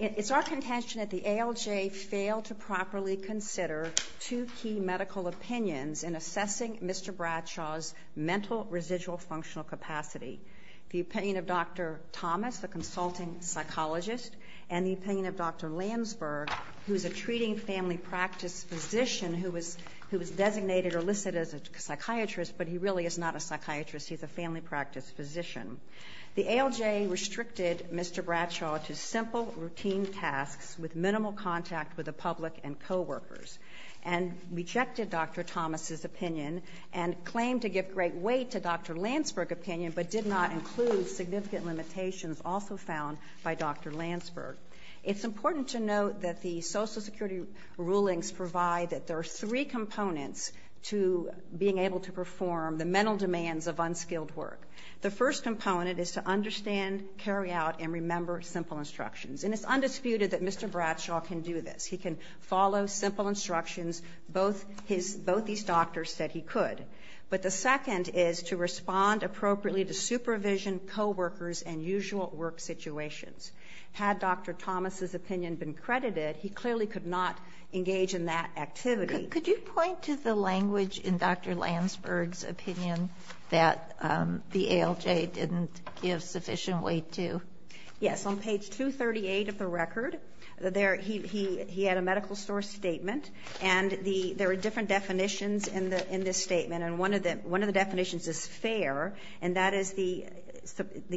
It is our contention that the ALJ failed to properly consider two key medical opinions in assessing Mr. Bradshaw's mental residual functional capacity. The opinion of Dr. Thomas, the consulting psychologist, and the opinion of Dr. Landsberg, who is a treating family practice physician who was designated or listed as a psychiatrist, but he really is not a psychiatrist, he's a family practice physician. The ALJ restricted Mr. Bradshaw to simple routine tasks with minimal contact with the public and coworkers, and rejected Dr. Thomas's opinion, and claimed to give great weight to Dr. Landsberg's opinion, but did not include significant limitations also found by Dr. Landsberg. It's important to note that the Social Security rulings provide that there are three components to being able to perform the mental demands of unskilled work. The first component is to understand, carry out, and remember simple instructions, and it's undisputed that Mr. Bradshaw can do this. He can follow simple instructions, both these doctors said he could. But the second is to respond appropriately to supervision, coworkers, and usual work situations. Had Dr. Thomas's opinion been credited, he clearly could not engage in that activity. Could you point to the language in Dr. Landsberg's opinion that the ALJ didn't give sufficient weight to? Yes, on page 238 of the record, he had a medical source statement, and there are different definitions in this statement, and one of the definitions is fair, and that is the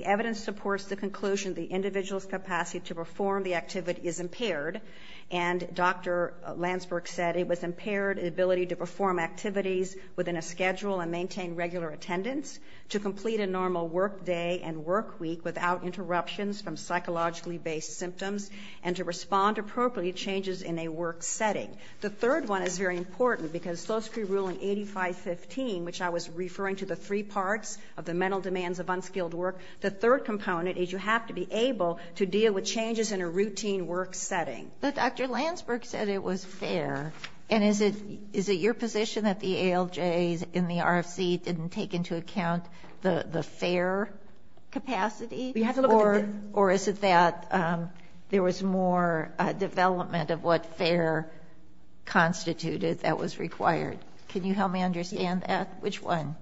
evidence supports the conclusion the individual's capacity to perform the activity is impaired. And Dr. Landsberg said it was impaired ability to perform activities within a schedule and maintain regular attendance, to complete a normal work day and work week without interruptions from psychologically based symptoms, and to respond appropriately to changes in a work setting. The third one is very important, because Solsky Ruling 8515, which I was referring to the three parts of the mental demands of unskilled work, the third component is you have to be able to deal with changes in a routine work setting. But Dr. Landsberg said it was fair, and is it your position that the ALJs in the RFC didn't take into account the fair capacity? Or is it that there was more development of what fair constituted that was required? Can you help me understand that? Which one?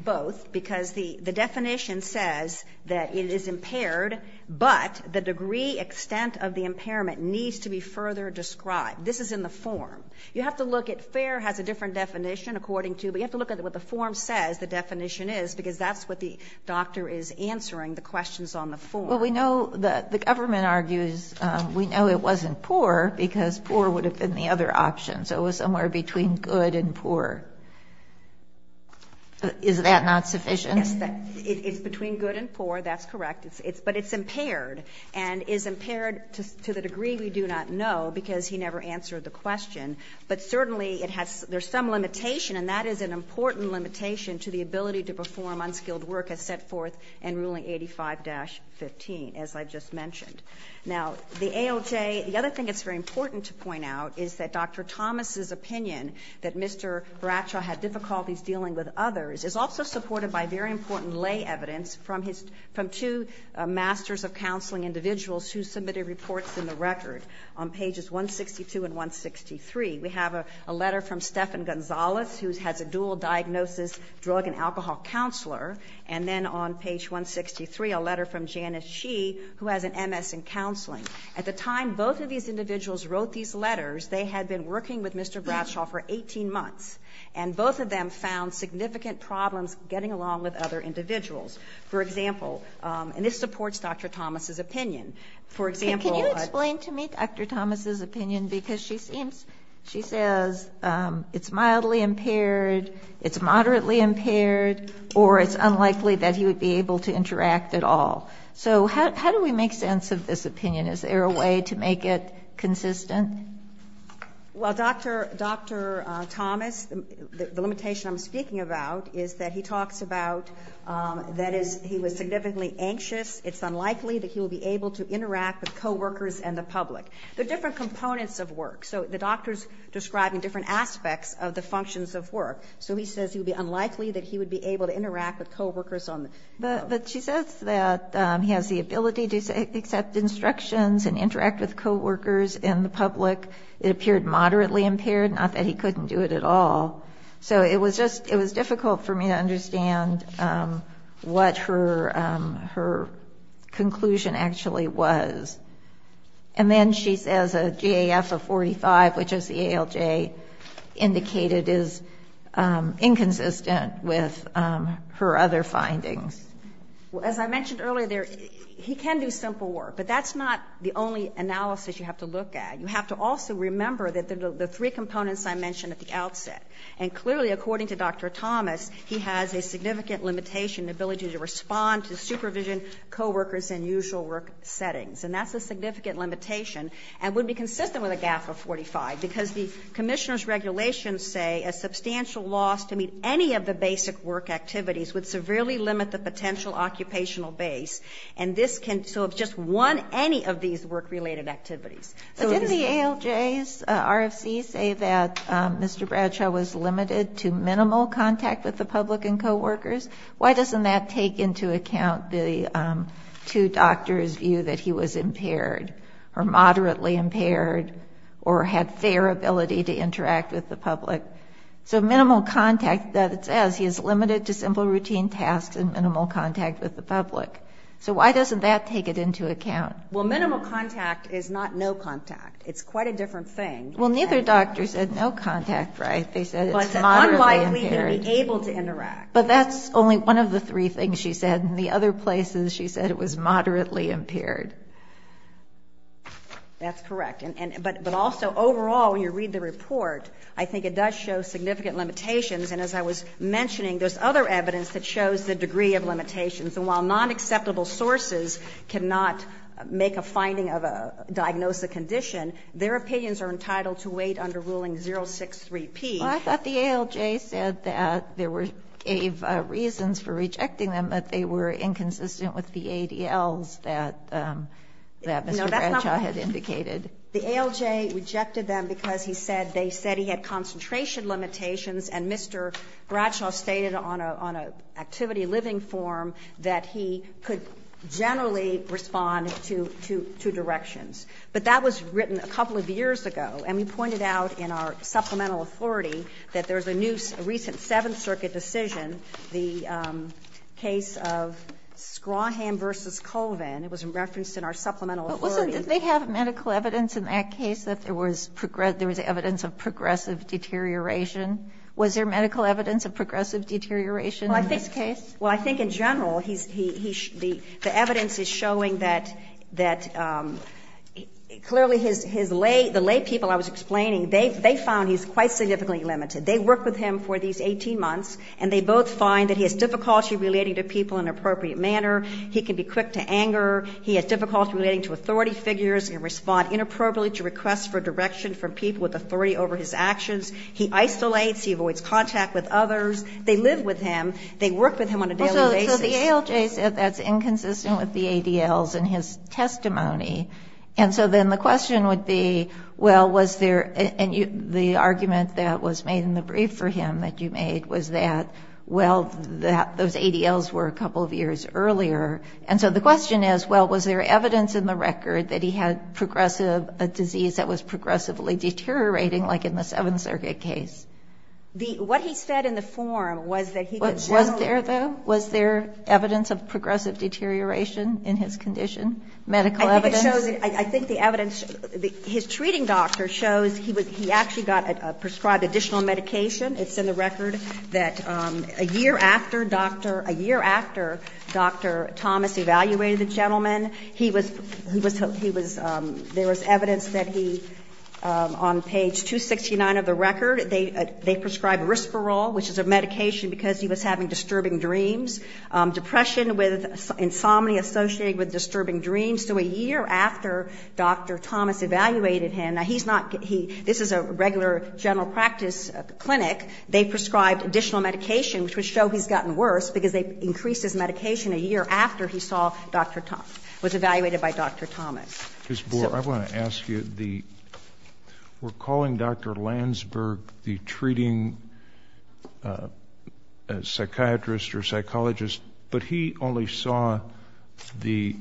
Both, because the definition says that it is impaired, but the degree, extent of the impairment needs to be further described. This is in the form. You have to look at fair has a different definition according to, but you have to look at what the form says the definition is, because that's what the doctor is answering the questions on the form. Well, we know that the government argues we know it wasn't poor, because poor would have been the other option. So it was somewhere between good and poor. Is that not sufficient? It's between good and poor, that's correct, but it's impaired, and it's impaired to the degree we do not know, because he never answered the question. But certainly it has, there's some limitation, and that is an important limitation to the ability to perform unskilled work as set forth in ruling 85-15, as I just mentioned. Now, the ALJ, the other thing that's very important to point out is that Dr. Thomas's opinion that Mr. Bracho had difficulties dealing with others is also supported by very important lay evidence from his, from two masters of counseling individuals who submitted reports in the record on pages 162 and 163. We have a letter from Stephan Gonzales, who has a dual diagnosis, drug and alcohol counselor, and then on page 163, a letter from Janice Shee, who has an MS in counseling. At the time both of these individuals wrote these letters, they had been working with Mr. Bracho for 18 months, and both of them found significant problems getting along with other individuals. For example, and this supports Dr. Thomas's opinion, for example, Can you explain to me Dr. Thomas's opinion, because she seems, she says it's mildly impaired, it's moderately impaired, or it's unlikely that he would be able to interact at all. So how do we make sense of this opinion? Is there a way to make it consistent? Well, Dr. Thomas, the limitation I'm speaking about is that he talks about that he was significantly anxious, it's unlikely that he would be able to interact with co-workers and the public. There are different components of work. So the doctor's describing different aspects of the functions of work. So he says it would be unlikely that he would be able to interact with co-workers on the job. But she says that he has the ability to accept instructions and interact with co-workers and the public. It appeared moderately impaired, not that he couldn't do it at all. So it was just, it was difficult for me to understand what her conclusion actually was. And then she says a GAF of 45, which is the ALJ, indicated is inconsistent with her other findings. Well, as I mentioned earlier, he can do simple work, but that's not the only analysis you have to look at. You have to also remember that the three components I mentioned at the outset, and clearly according to Dr. Thomas, he has a significant limitation, the ability to respond to supervision, co-workers in usual work settings. And that's a significant limitation and would be consistent with a GAF of 45 because the commissioner's regulations say a substantial loss to meet any of the basic work activities would severely limit the potential occupational base. And this can, so if just one, any of these work-related activities. Didn't the ALJ's RFC say that Mr. Bradshaw was limited to minimal contact with the public and co-workers? Why doesn't that take into account the two doctors' view that he was impaired or moderately impaired or had fair ability to interact with the public? So minimal contact, that it says he is limited to simple routine tasks and minimal contact with the public. So why doesn't that take it into account? Well, minimal contact is not no contact. It's quite a different thing. Well, neither doctor said no contact, right? They said it's moderately impaired. But it's unlikely to be able to interact. But that's only one of the three things she said. In the other places, she said it was moderately impaired. That's correct. But also overall, when you read the report, I think it does show significant limitations. And as I was mentioning, there's other evidence that shows the degree of limitations. And while non-acceptable sources cannot make a finding of a diagnosis condition, their opinions are entitled to wait under Ruling 063P. Well, I thought the ALJ said that there were gave reasons for rejecting them, but they were inconsistent with the ADLs that Mr. Bradshaw had indicated. The ALJ rejected them because he said they said he had concentration limitations. And Mr. Bradshaw stated on an activity living form that he could generally respond to directions. But that was written a couple of years ago. And we pointed out in our supplemental authority that there's a new recent Seventh Circuit decision, the case of Scrawham v. Colvin, it was referenced in our supplemental authority. But listen, did they have medical evidence in that case that there was evidence of progressive deterioration? Was there medical evidence of progressive deterioration in this case? Well, I think in general, the evidence is showing that clearly the laypeople I was explaining, they found he's quite significantly limited. They worked with him for these 18 months, and they both find that he has difficulty relating to people in an appropriate manner. He can be quick to anger. He has difficulty relating to authority figures and respond inappropriately to requests for his actions. He isolates. He avoids contact with others. They live with him. They work with him on a daily basis. So the ALJ said that's inconsistent with the ADLs in his testimony. And so then the question would be, well, was there, and the argument that was made in the brief for him that you made was that, well, those ADLs were a couple of years earlier. And so the question is, well, was there evidence in the record that he had progressive, a disease that was progressively deteriorating, like in the Seventh Circuit case? The what he said in the forum was that he was generally. Was there, though? Was there evidence of progressive deterioration in his condition, medical evidence? I think it shows, I think the evidence, his treating doctor shows he was, he actually got a prescribed additional medication. It's in the record that a year after Dr. Thomas evaluated the gentleman, he was, he was, on page 269 of the record, they prescribed Risperol, which is a medication because he was having disturbing dreams, depression with insomnia associated with disturbing dreams. So a year after Dr. Thomas evaluated him, now he's not, this is a regular general practice clinic. They prescribed additional medication, which would show he's gotten worse, because they increased his medication a year after he saw Dr. Thomas, was evaluated by Dr. Thomas. Ms. Bohr, I want to ask you, the, we're calling Dr. Landsberg the treating psychiatrist or psychologist, but he only saw the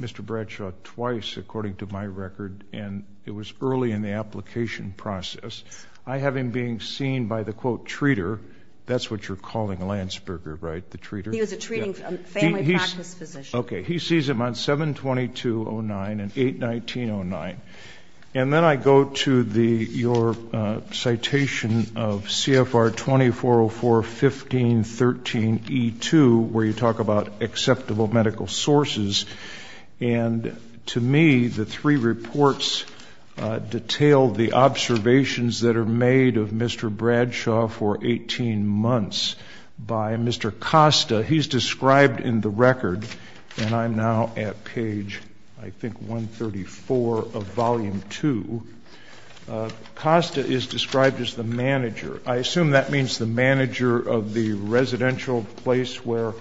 Mr. Bradshaw twice, according to my record, and it was early in the application process. I have him being seen by the quote, treater. That's what you're calling Landsberger, right? The treater? He was a treating family practice physician. Okay. He sees him on 7-2209 and 8-1909. And then I go to the, your citation of CFR-2404-1513-E2, where you talk about acceptable medical sources. And to me, the three reports detail the observations that are made of Mr. Bradshaw for 18 months by Mr. Costa. He's described in the record, and I'm now at page, I think, 134 of volume two. Costa is described as the manager. I assume that means the manager of the residential place where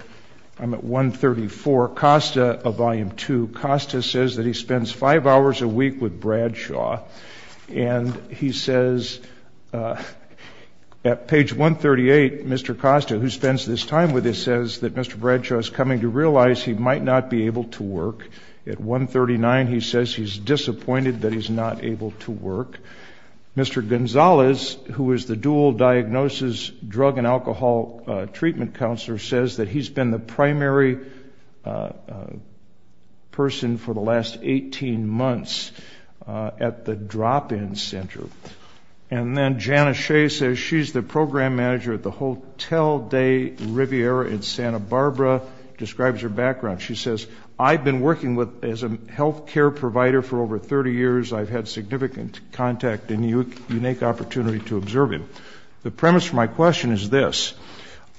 I'm at 134. Costa, of volume two, Costa says that he spends five hours a week with Bradshaw. And he says at page 138, Mr. Costa, who spends this time with him, says that Mr. Bradshaw is coming to realize he might not be able to work. At 139, he says he's disappointed that he's not able to work. Mr. Gonzalez, who is the dual diagnosis drug and alcohol treatment counselor, says that he's been the primary person for the last 18 months at the drop-in center. And then Jana Shea says she's the program manager at the Hotel de Riviera in Santa Barbara, describes her background. She says, I've been working as a healthcare provider for over 30 years. I've had significant contact and unique opportunity to observe him. The premise for my question is this.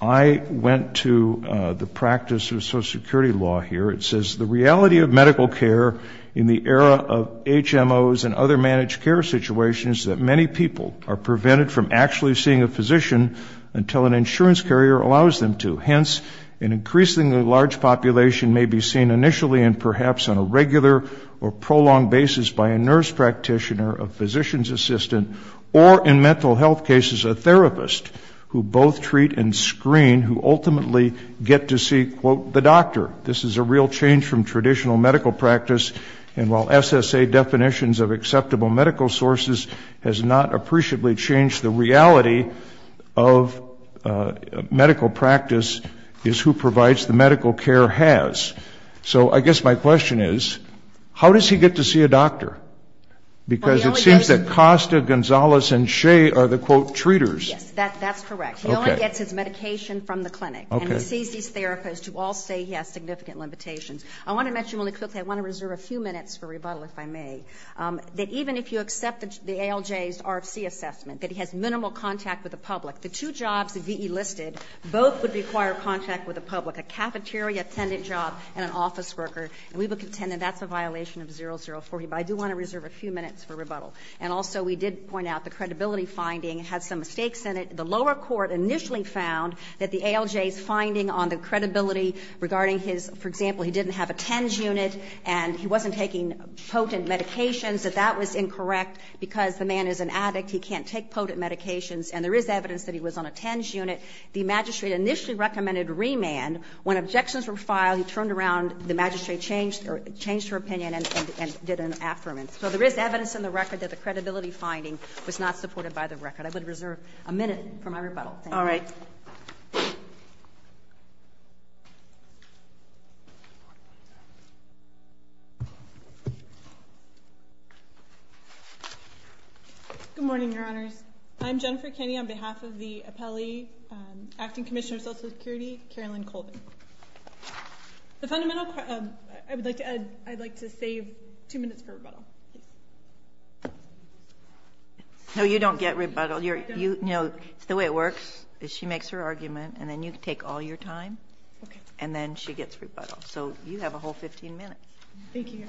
I went to the practice of social security law here. It says the reality of medical care in the era of HMOs and other managed care situations, that many people are prevented from actually seeing a physician until an insurance carrier allows them to. Hence, an increasingly large population may be seen initially and perhaps on a regular or prolonged basis by a nurse practitioner, a physician's assistant, or in mental health cases, a therapist who both treat and screen, who ultimately get to see, quote, the doctor. This is a real change from traditional medical practice. And while SSA definitions of acceptable medical sources has not appreciably changed, the reality of medical practice is who provides the medical care has. So I guess my question is, how does he get to see a doctor? Because it seems that Costa, Gonzalez, and Shea are the quote, treaters. Yes, that's correct. He only gets his medication from the clinic and he sees these therapists who all say he has significant limitations. I want to mention really quickly, I want to reserve a few minutes for rebuttal, if I may, that even if you accept the ALJ's RFC assessment, that he has minimal contact with the public, the two jobs that VE listed, both would require contact with the public, a cafeteria attendant job and an office worker, and we would contend that that's a violation of 0040. But I do want to reserve a few minutes for rebuttal. And also we did point out the credibility finding had some mistakes in it. The lower court initially found that the ALJ's finding on the credibility regarding his, for example, he didn't have a TENS unit and he wasn't taking potent medications, that that was incorrect because the man is an addict, he can't take potent medications, and there is evidence that he was on a TENS unit. The magistrate initially recommended remand. When objections were filed, he turned around, the magistrate changed her opinion and did an affirmance. So there is evidence in the record that the credibility finding was not supported by the record. I would reserve a minute for my rebuttal. All right. Good morning, Your Honors. I'm Jennifer Kenny on behalf of the appellee, um, acting commissioner of social security, Carolyn Colvin. The fundamental, um, I would like to add, I'd like to save two minutes for rebuttal. No, you don't get rebuttal. You're, you, you know, it's the way it works is she makes her argument and then you take all your time and then she gets rebuttal. So you have a whole 15 minutes. Thank you, Your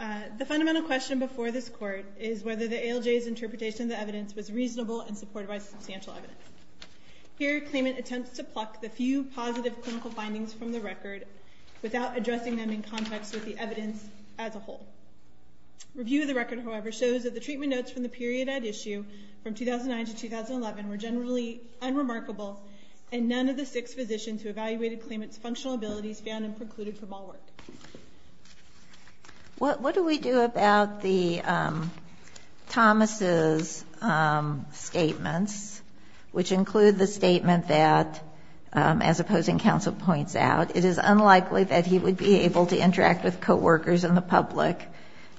Honor. Uh, the fundamental question before this court is whether the ALJ's interpretation of the evidence was reasonable and supported by substantial evidence. Here, claimant attempts to pluck the few positive clinical findings from the record without addressing them in context with the evidence as a whole. Review of the record, however, shows that the treatment notes from the period at issue from 2009 to 2011 were generally unremarkable and none of the six physicians who evaluated claimant's functional abilities found and precluded from all work. What, what do we do about the, um, Thomas's, um, statements, which include the statement that, um, as opposing counsel points out, it is unlikely that he would be able to interact with coworkers in the public.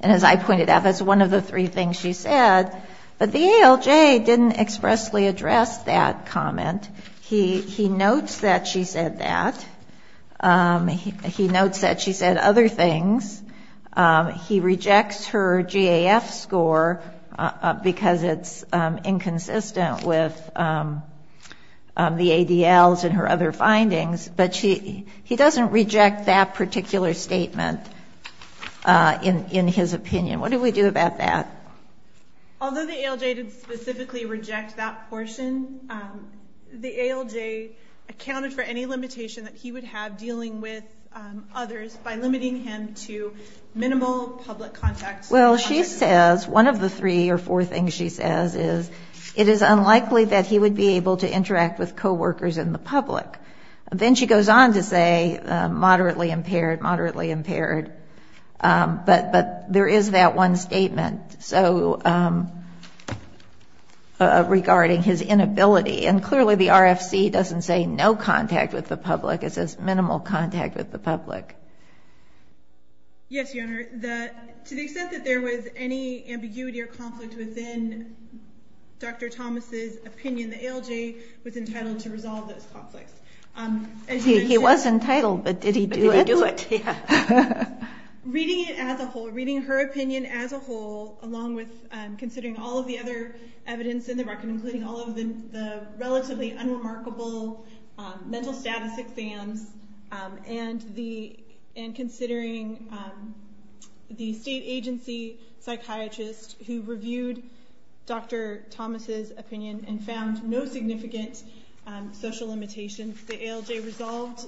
And as I pointed out, that's one of the three things she said, but the ALJ didn't expressly address that comment. He, he notes that she said that, um, he, he notes that she said that she said other things, um, he rejects her GAF score, uh, uh, because it's, um, inconsistent with, um, um, the ADLs and her other findings, but she, he doesn't reject that particular statement, uh, in, in his opinion. What do we do about that? Although the ALJ did specifically reject that portion, um, the ALJ accounted for any limitation that he would have dealing with, um, others by limiting him to minimal public contact. Well, she says one of the three or four things she says is it is unlikely that he would be able to interact with coworkers in the public. Then she goes on to say, um, moderately impaired, moderately impaired, um, but, but there is that one statement. So, um, uh, regarding his inability and clearly the RFC doesn't say no contact with the public, it says minimal contact with the public. Yes, Your Honor. The, to the extent that there was any ambiguity or conflict within Dr. Thomas's opinion, the ALJ was entitled to resolve those conflicts. Um, he was entitled, but did he do it? Reading it as a whole, reading her opinion as a whole, along with, um, considering all of the other evidence in the record, including all of the, the mental status exams, um, and the, and considering, um, the state agency psychiatrist who reviewed Dr. Thomas's opinion and found no significant, um, social limitations. The ALJ resolved,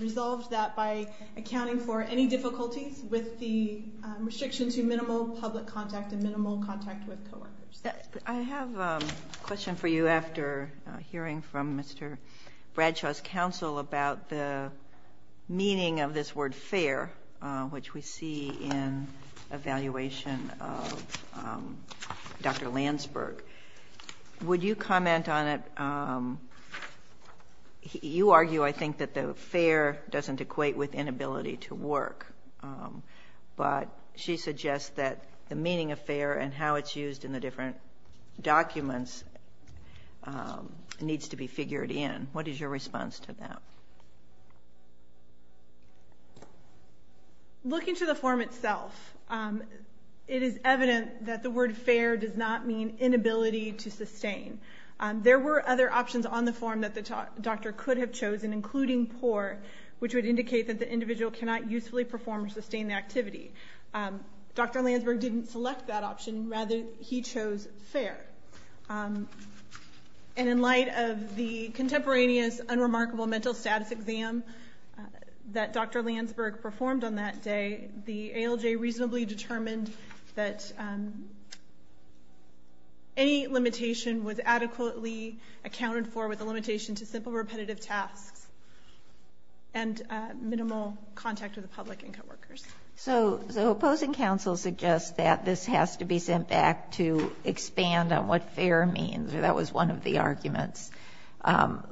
resolved that by accounting for any difficulties with the restriction to minimal public contact and minimal contact with coworkers. I have a question for you after hearing from Mr. Bradshaw's counsel about the meaning of this word fair, uh, which we see in evaluation of, um, Dr. Landsberg, would you comment on it? Um, you argue, I think that the fair doesn't equate with inability to work. Um, but she suggests that the meaning of fair and how it's used in the different documents, um, needs to be figured in. What is your response to that? Looking to the form itself, um, it is evident that the word fair does not mean inability to sustain. Um, there were other options on the form that the doctor could have chosen, including poor, which would indicate that the individual cannot usefully perform or sustain the activity. Um, Dr. fair. Um, and in light of the contemporaneous unremarkable mental status exam, uh, that Dr. Landsberg performed on that day, the ALJ reasonably determined that, um, any limitation was adequately accounted for with the limitation to simple repetitive tasks and, uh, minimal contact with the public and coworkers. So, so opposing counsel suggests that this has to be sent back to expand on what fair means, or that was one of the arguments. Um,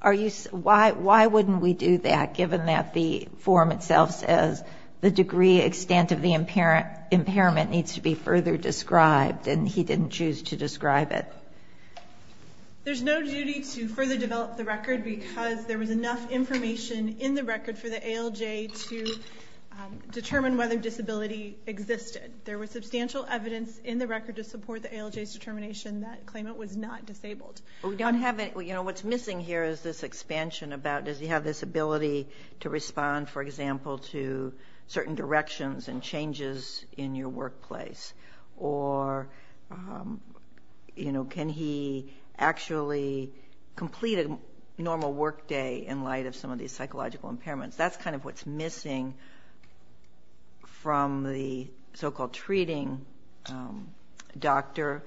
are you, why, why wouldn't we do that? Given that the form itself says the degree extent of the impairment needs to be further described, and he didn't choose to describe it. There's no duty to further develop the record because there was enough information in the record for the ALJ to, um, determine whether disability existed, there was substantial evidence in the record to support the ALJ's determination that claimant was not disabled. We don't have it, you know, what's missing here is this expansion about, does he have this ability to respond, for example, to certain directions and changes in your workplace, or, um, you know, can he actually complete a normal workday in light of some of these psychological impairments, that's kind of what's missing from the so-called treating, um, doctor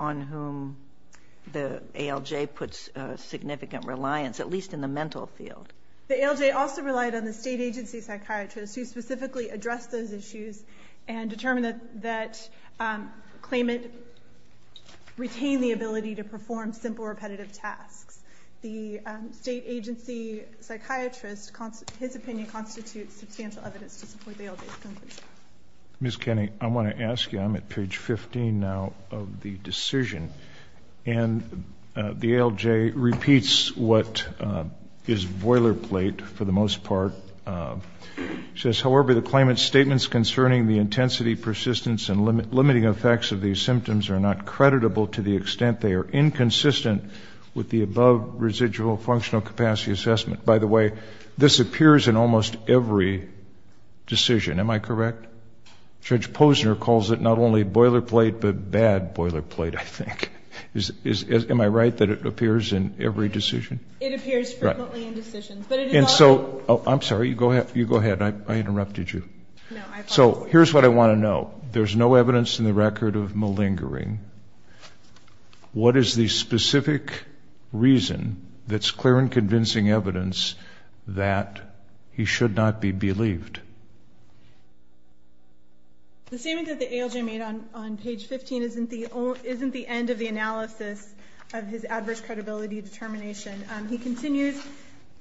on whom the ALJ puts a significant reliance, at least in the mental field. The ALJ also relied on the state agency psychiatrist who specifically addressed those issues and determined that, um, claimant retained the ability to perform simple repetitive tasks. The, um, state agency psychiatrist, his opinion constitutes substantial evidence to support the ALJ's conclusion. Ms. Kenney, I want to ask you, I'm at page 15 now of the decision, and, uh, the ALJ repeats what, uh, is boilerplate for the most part, uh, says, however, the claimant's statements concerning the intensity, persistence, and limiting effects of these symptoms are not creditable to the extent they are residual functional capacity assessment. By the way, this appears in almost every decision. Am I correct? Judge Posner calls it not only boilerplate, but bad boilerplate, I think. Is, is, is, am I right that it appears in every decision? It appears frequently in decisions, but it is also- And so, oh, I'm sorry. You go ahead, you go ahead. I, I interrupted you. So here's what I want to know. There's no evidence in the record of malingering. What is the specific reason that's clear and convincing evidence that he should not be believed? The statement that the ALJ made on, on page 15 isn't the, isn't the end of the analysis of his adverse credibility determination, um, he continues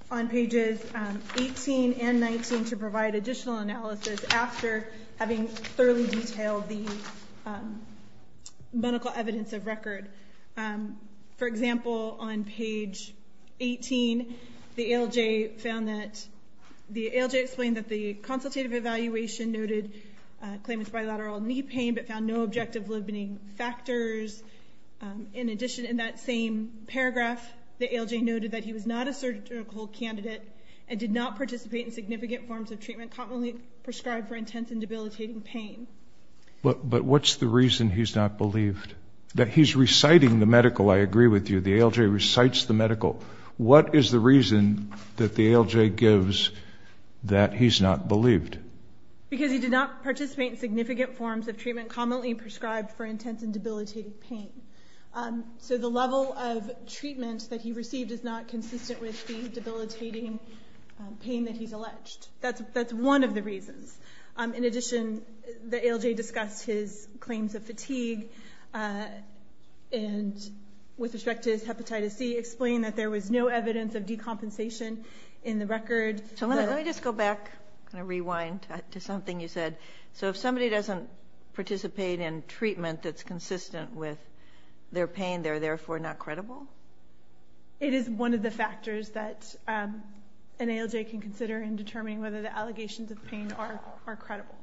on pages, um, 18 and 19 to provide additional analysis after having thoroughly detailed the, um, medical evidence of record. Um, for example, on page 18, the ALJ found that, the ALJ explained that the consultative evaluation noted a claimant's bilateral knee pain, but found no objective limiting factors. Um, in addition, in that same paragraph, the ALJ noted that he was not a surgical candidate and did not participate in significant forms of treatment commonly prescribed for intense and debilitating pain. But, but what's the reason he's not believed that he's reciting the medical, I agree with you. The ALJ recites the medical. What is the reason that the ALJ gives that he's not believed? Because he did not participate in significant forms of treatment commonly prescribed for intense and debilitating pain. Um, so the level of treatment that he received is not consistent with the debilitating pain that he's alleged. That's, that's one of the reasons. Um, in addition, the ALJ discussed his claims of fatigue, uh, and with respect to his hepatitis C, explained that there was no evidence of decompensation in the record. So let me just go back, kind of rewind to something you said. So if somebody doesn't participate in treatment that's consistent with their pain, they're therefore not credible? It is one of the factors that, um, an ALJ can consider in determining whether the allegations of pain are, are credible.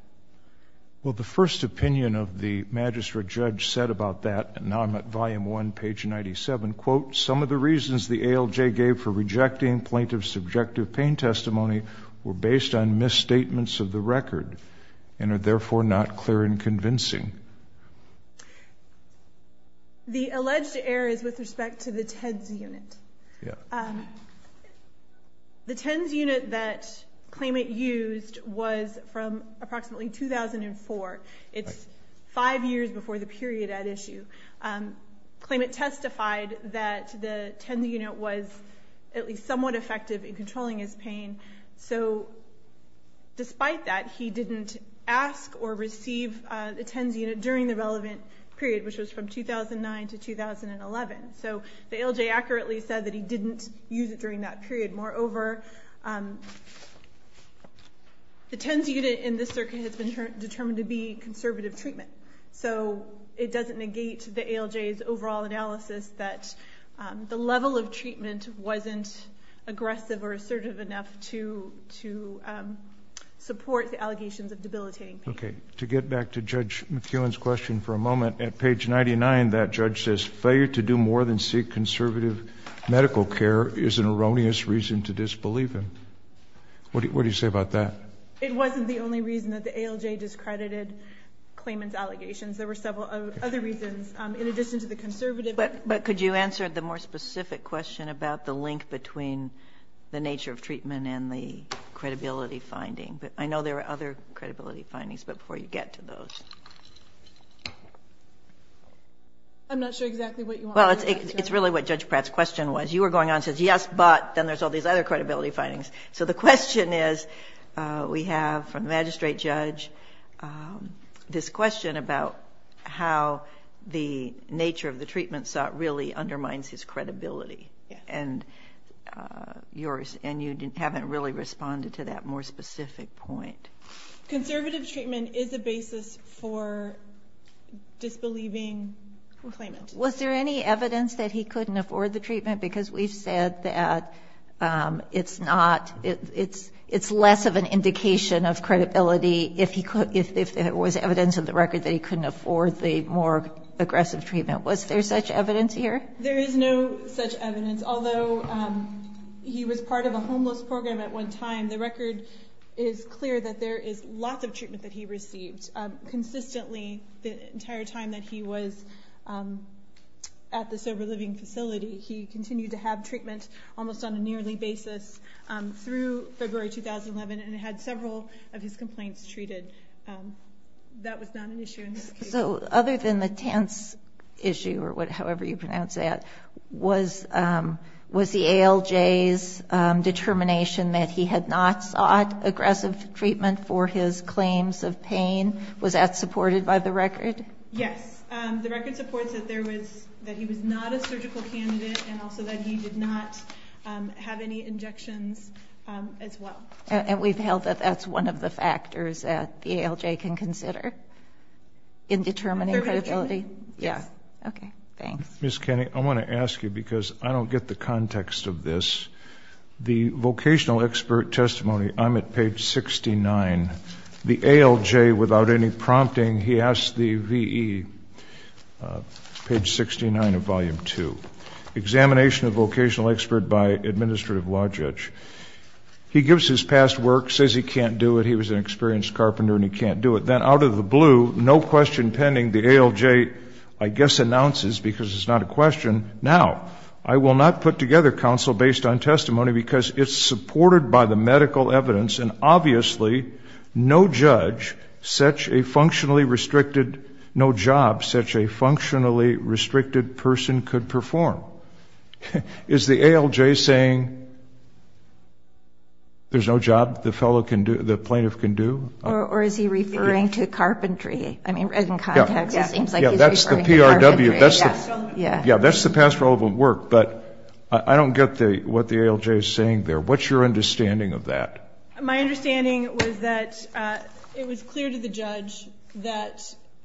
Well, the first opinion of the magistrate judge said about that, and now I'm at volume one, page 97, quote, some of the reasons the ALJ gave for rejecting plaintiff's subjective pain testimony were based on misstatements of the record and are therefore not clear and convincing. The alleged error is with respect to the TEDS unit. Yeah. Um, the TEDS unit that claimant used was from approximately 2004. It's five years before the period at issue. Um, claimant testified that the TEDS unit was at least somewhat effective in controlling his pain. So despite that, he didn't ask or receive, uh, the TEDS unit during the relevant period, which was from 2009 to 2011. So the ALJ accurately said that he didn't use it during that period. Moreover, um, the TEDS unit in this circuit has been determined to be conservative treatment. So it doesn't negate the ALJ's overall analysis that, um, the level of treatment wasn't aggressive or assertive enough to, to, um, support the allegations of debilitating pain. Okay. To get back to Judge McKeown's question for a moment, at page 99, that judge says failure to do more than seek conservative medical care is an erroneous reason to disbelieve him. What do you, what do you say about that? It wasn't the only reason that the ALJ discredited claimant's allegations. There were several other reasons, um, in addition to the conservative. But, but could you answer the more specific question about the link between the nature of treatment and the credibility finding? But I know there are other credibility findings, but before you get to those. I'm not sure exactly what you want me to answer. Well, it's, it's really what Judge Pratt's question was. You were going on and said, yes, but then there's all these other credibility findings. So the question is, uh, we have from the magistrate judge, um, this question about how the nature of the treatment sought really undermines his credibility. And, uh, yours, and you didn't, haven't really responded to that more specific point. Was there any evidence that he couldn't afford the treatment because we've said that, um, it's not, it's, it's less of an indication of credibility if he could, if there was evidence of the record that he couldn't afford the more aggressive treatment, was there such evidence here? There is no such evidence. Although, um, he was part of a homeless program at one time, the record is clear that there is lots of treatment that he received, um, consistently the entire time that he was, um, at the sober living facility. He continued to have treatment almost on a nearly basis, um, through February, 2011, and it had several of his complaints treated. Um, that was not an issue. So other than the tense issue or what, however you pronounce that was, um, was the ALJ's, um, determination that he had not sought aggressive treatment for his claims of pain. Was that supported by the record? Yes. Um, the record supports that there was, that he was not a surgical candidate and also that he did not, um, have any injections, um, as well. And we've held that that's one of the factors that the ALJ can consider in determining credibility. Yeah. Okay. Thanks. Ms. Kenny, I want to ask you, because I don't get the context of this, the vocational expert testimony, I'm at page 69, the ALJ, without any prompting, he asked the VE, uh, page 69 of volume two, examination of vocational expert by administrative law judge. He gives his past work, says he can't do it. He was an experienced carpenter and he can't do it. Then out of the blue, no question pending, the ALJ, I guess, announces, because it's not a question. Now, I will not put together counsel based on testimony because it's supported by the medical evidence. And obviously no judge, such a functionally restricted, no job, such a functionally restricted person could perform. Is the ALJ saying there's no job the fellow can do, the plaintiff can do? Or is he referring to carpentry? I mean, in context, it seems like he's referring to carpentry. Yeah. Yeah. That's the past relevant work, but I don't get the, what the ALJ is saying there, what's your understanding of that? My understanding was that, uh, it was clear to the judge that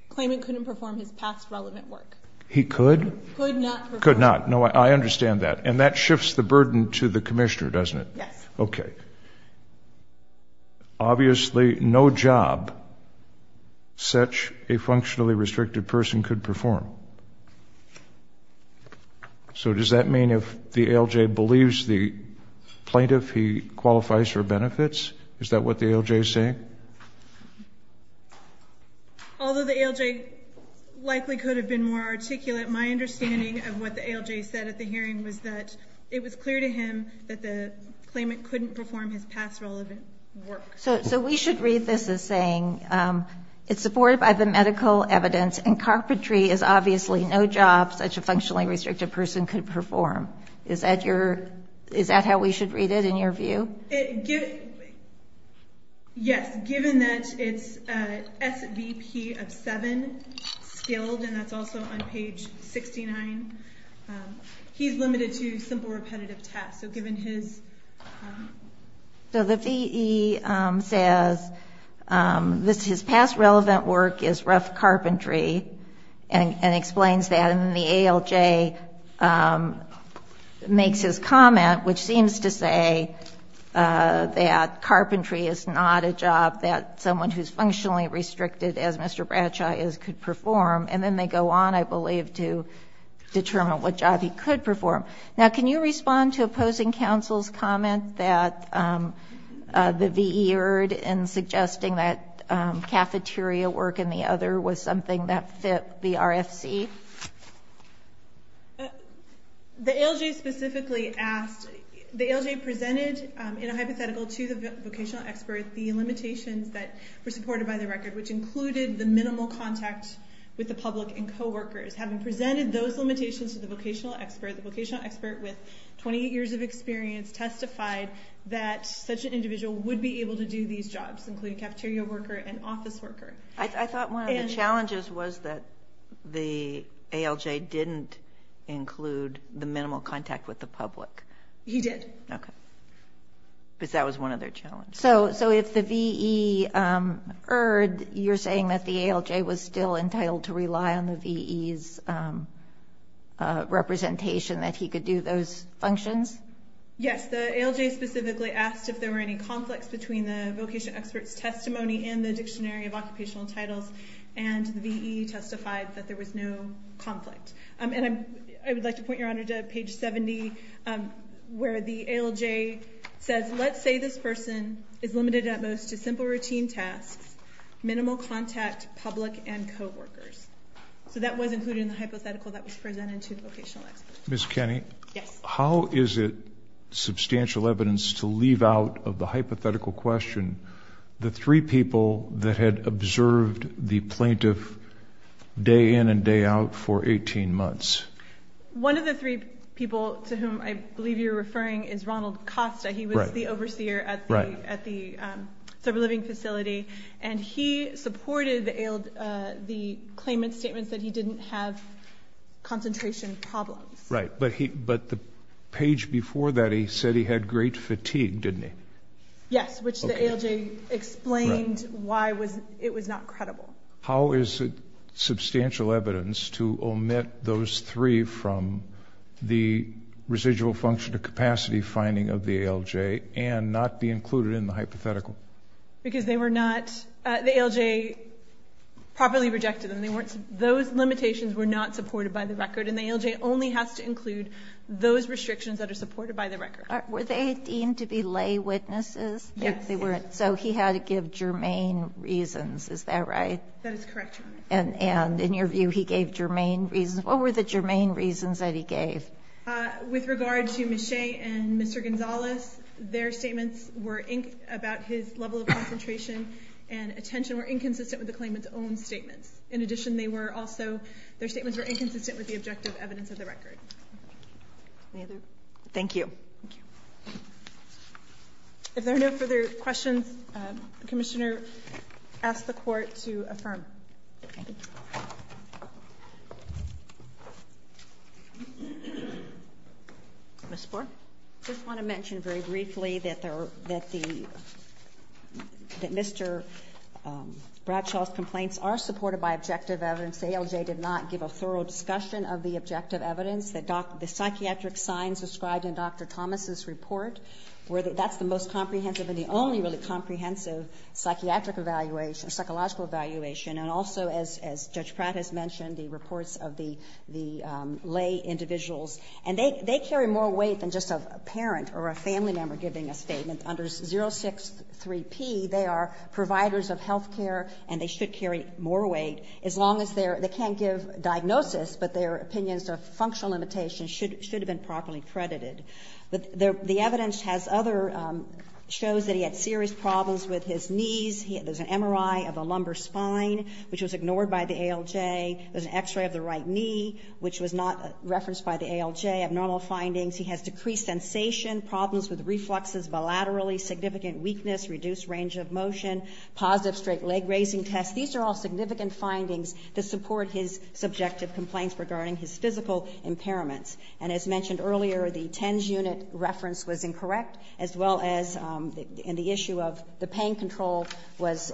Klayman couldn't perform his past relevant work. He could? Could not. Could not. No, I understand that. And that shifts the burden to the commissioner, doesn't it? Yes. Okay. Obviously no job, such a functionally restricted person could perform. So does that mean if the ALJ believes the plaintiff, he qualifies for benefits? Is that what the ALJ is saying? Although the ALJ likely could have been more articulate, my understanding of what the ALJ said at the hearing was that it was clear to him that the Klayman couldn't perform his past relevant work. So, so we should read this as saying, um, it's supported by the medical evidence and carpentry is obviously no job such a functionally restricted person could perform. Is that your, is that how we should read it in your view? Yes. Given that it's a SVP of seven skilled, and that's also on page 69, um, he's limited to simple repetitive tasks. So given his, um. So the VE, um, says, um, this, his past relevant work is rough carpentry and explains that in the ALJ, um, makes his comment, which seems to say, uh, that carpentry is not a job that someone who's functionally restricted as Mr. Bradshaw is could perform. And then they go on, I believe, to determine what job he could perform. Now, can you respond to opposing counsel's comment that, um, uh, the VE erred in suggesting that, um, cafeteria work and the other was something that fit the RFC? The ALJ specifically asked, the ALJ presented, um, in a hypothetical to the vocational expert, the limitations that were supported by the record, which included the minimal contact with the public and coworkers. Having presented those limitations to the vocational expert, the vocational expert with 28 years of experience testified that such an individual would be able to do these jobs, including cafeteria worker and office worker. I thought one of the challenges was that the ALJ didn't include the minimal contact with the public. He did. Okay. Because that was one of their challenges. So, so if the VE, um, erred, you're saying that the ALJ was still entitled to rely on the VE's, um, uh, representation that he could do those functions? Yes. The ALJ specifically asked if there were any conflicts between the vocation expert's testimony and the dictionary of occupational titles and the VE testified that there was no conflict. Um, and I'm, I would like to point your honor to page 70, um, where the ALJ says, let's say this person is limited at most to simple routine tasks, minimal contact public and coworkers. So that was included in the hypothetical that was presented to the vocational expert. Ms. Kenney, how is it substantial evidence to leave out of the hypothetical question, the three people that had observed the plaintiff day in and day out for 18 months? One of the three people to whom I believe you're referring is Ronald Costa. He was the overseer at the, at the, um, sober living facility. And he supported the ALJ, uh, the claimant statements that he didn't have concentration problems. Right. But he, but the page before that, he said he had great fatigue, didn't he? Yes. Which the ALJ explained why was it was not credible. How is it substantial evidence to omit those three from the residual function of capacity finding of the ALJ and not be included in the hypothetical? Because they were not, uh, the ALJ properly rejected them. They weren't, those limitations were not supported by the record. And the ALJ only has to include those restrictions that are supported by the record. Were they deemed to be lay witnesses? Yes. They weren't. So he had to give germane reasons. Is that right? That is correct. And, and in your view, he gave germane reasons. What were the germane reasons that he gave? Uh, with regard to Ms. Level of concentration and attention were inconsistent with the claimant's own statements. In addition, they were also, their statements were inconsistent with the objective evidence of the record. Thank you. If there are no further questions, uh, the commissioner asked the court to affirm. Ms. That Mr. Um, Bradshaw's complaints are supported by objective evidence. The ALJ did not give a thorough discussion of the objective evidence that doc, the psychiatric signs described in Dr. Thomas's report where that's the most comprehensive and the only really comprehensive psychiatric evaluation, psychological evaluation. And also as, as judge Pratt has mentioned, the reports of the, the, um, lay individuals and they, they carry more weight than just a parent or a family member giving a statement under 0 6 3 P. They are providers of healthcare and they should carry more weight as long as they're, they can't give diagnosis, but their opinions of functional limitations should, should have been properly credited. But there, the evidence has other, um, shows that he had serious problems with his knees. He, there's an MRI of a lumbar spine, which was ignored by the ALJ. There's an x-ray of the right knee, which was not referenced by the ALJ. Abnormal findings. He has decreased sensation, problems with refluxes bilaterally, significant weakness, reduced range of motion, positive straight leg raising tests. These are all significant findings to support his subjective complaints regarding his physical impairments. And as mentioned earlier, the TENS unit reference was incorrect as well as, um, and the issue of the pain control was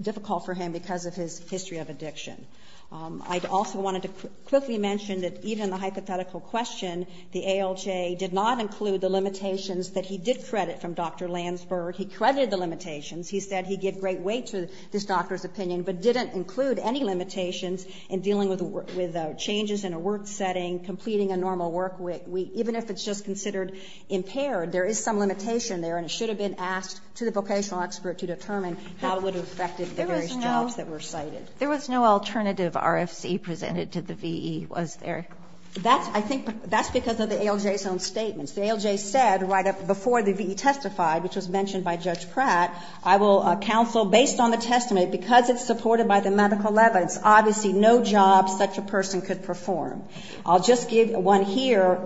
difficult for him because of his history of addiction. Um, I'd also wanted to quickly mention that even the hypothetical question, the ALJ did not include the limitations that he did credit from Dr. Landsberg. He credited the limitations. He said he'd give great weight to this doctor's opinion, but didn't include any limitations in dealing with, with, uh, changes in a work setting, completing a normal work week. We, even if it's just considered impaired, there is some limitation there, and it should have been asked to the vocational expert to determine how it would have affected the various jobs that were cited. There was no alternative RFC presented to the VE, was there? That's, I think, that's because of the ALJ's own statements. The ALJ said right up before the VE testified, which was mentioned by Judge Pratt, I will, uh, counsel based on the testament, because it's supported by the medical evidence, obviously no job such a person could perform. I'll just give one here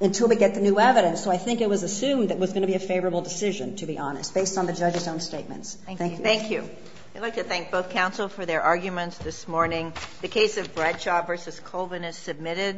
until we get the new evidence. So I think it was assumed that it was going to be a favorable decision, to be honest, based on the judge's own statements. Thank you. Thank you. I'd like to thank both counsel for their arguments this morning. The case of Bradshaw versus Colvin is submitted.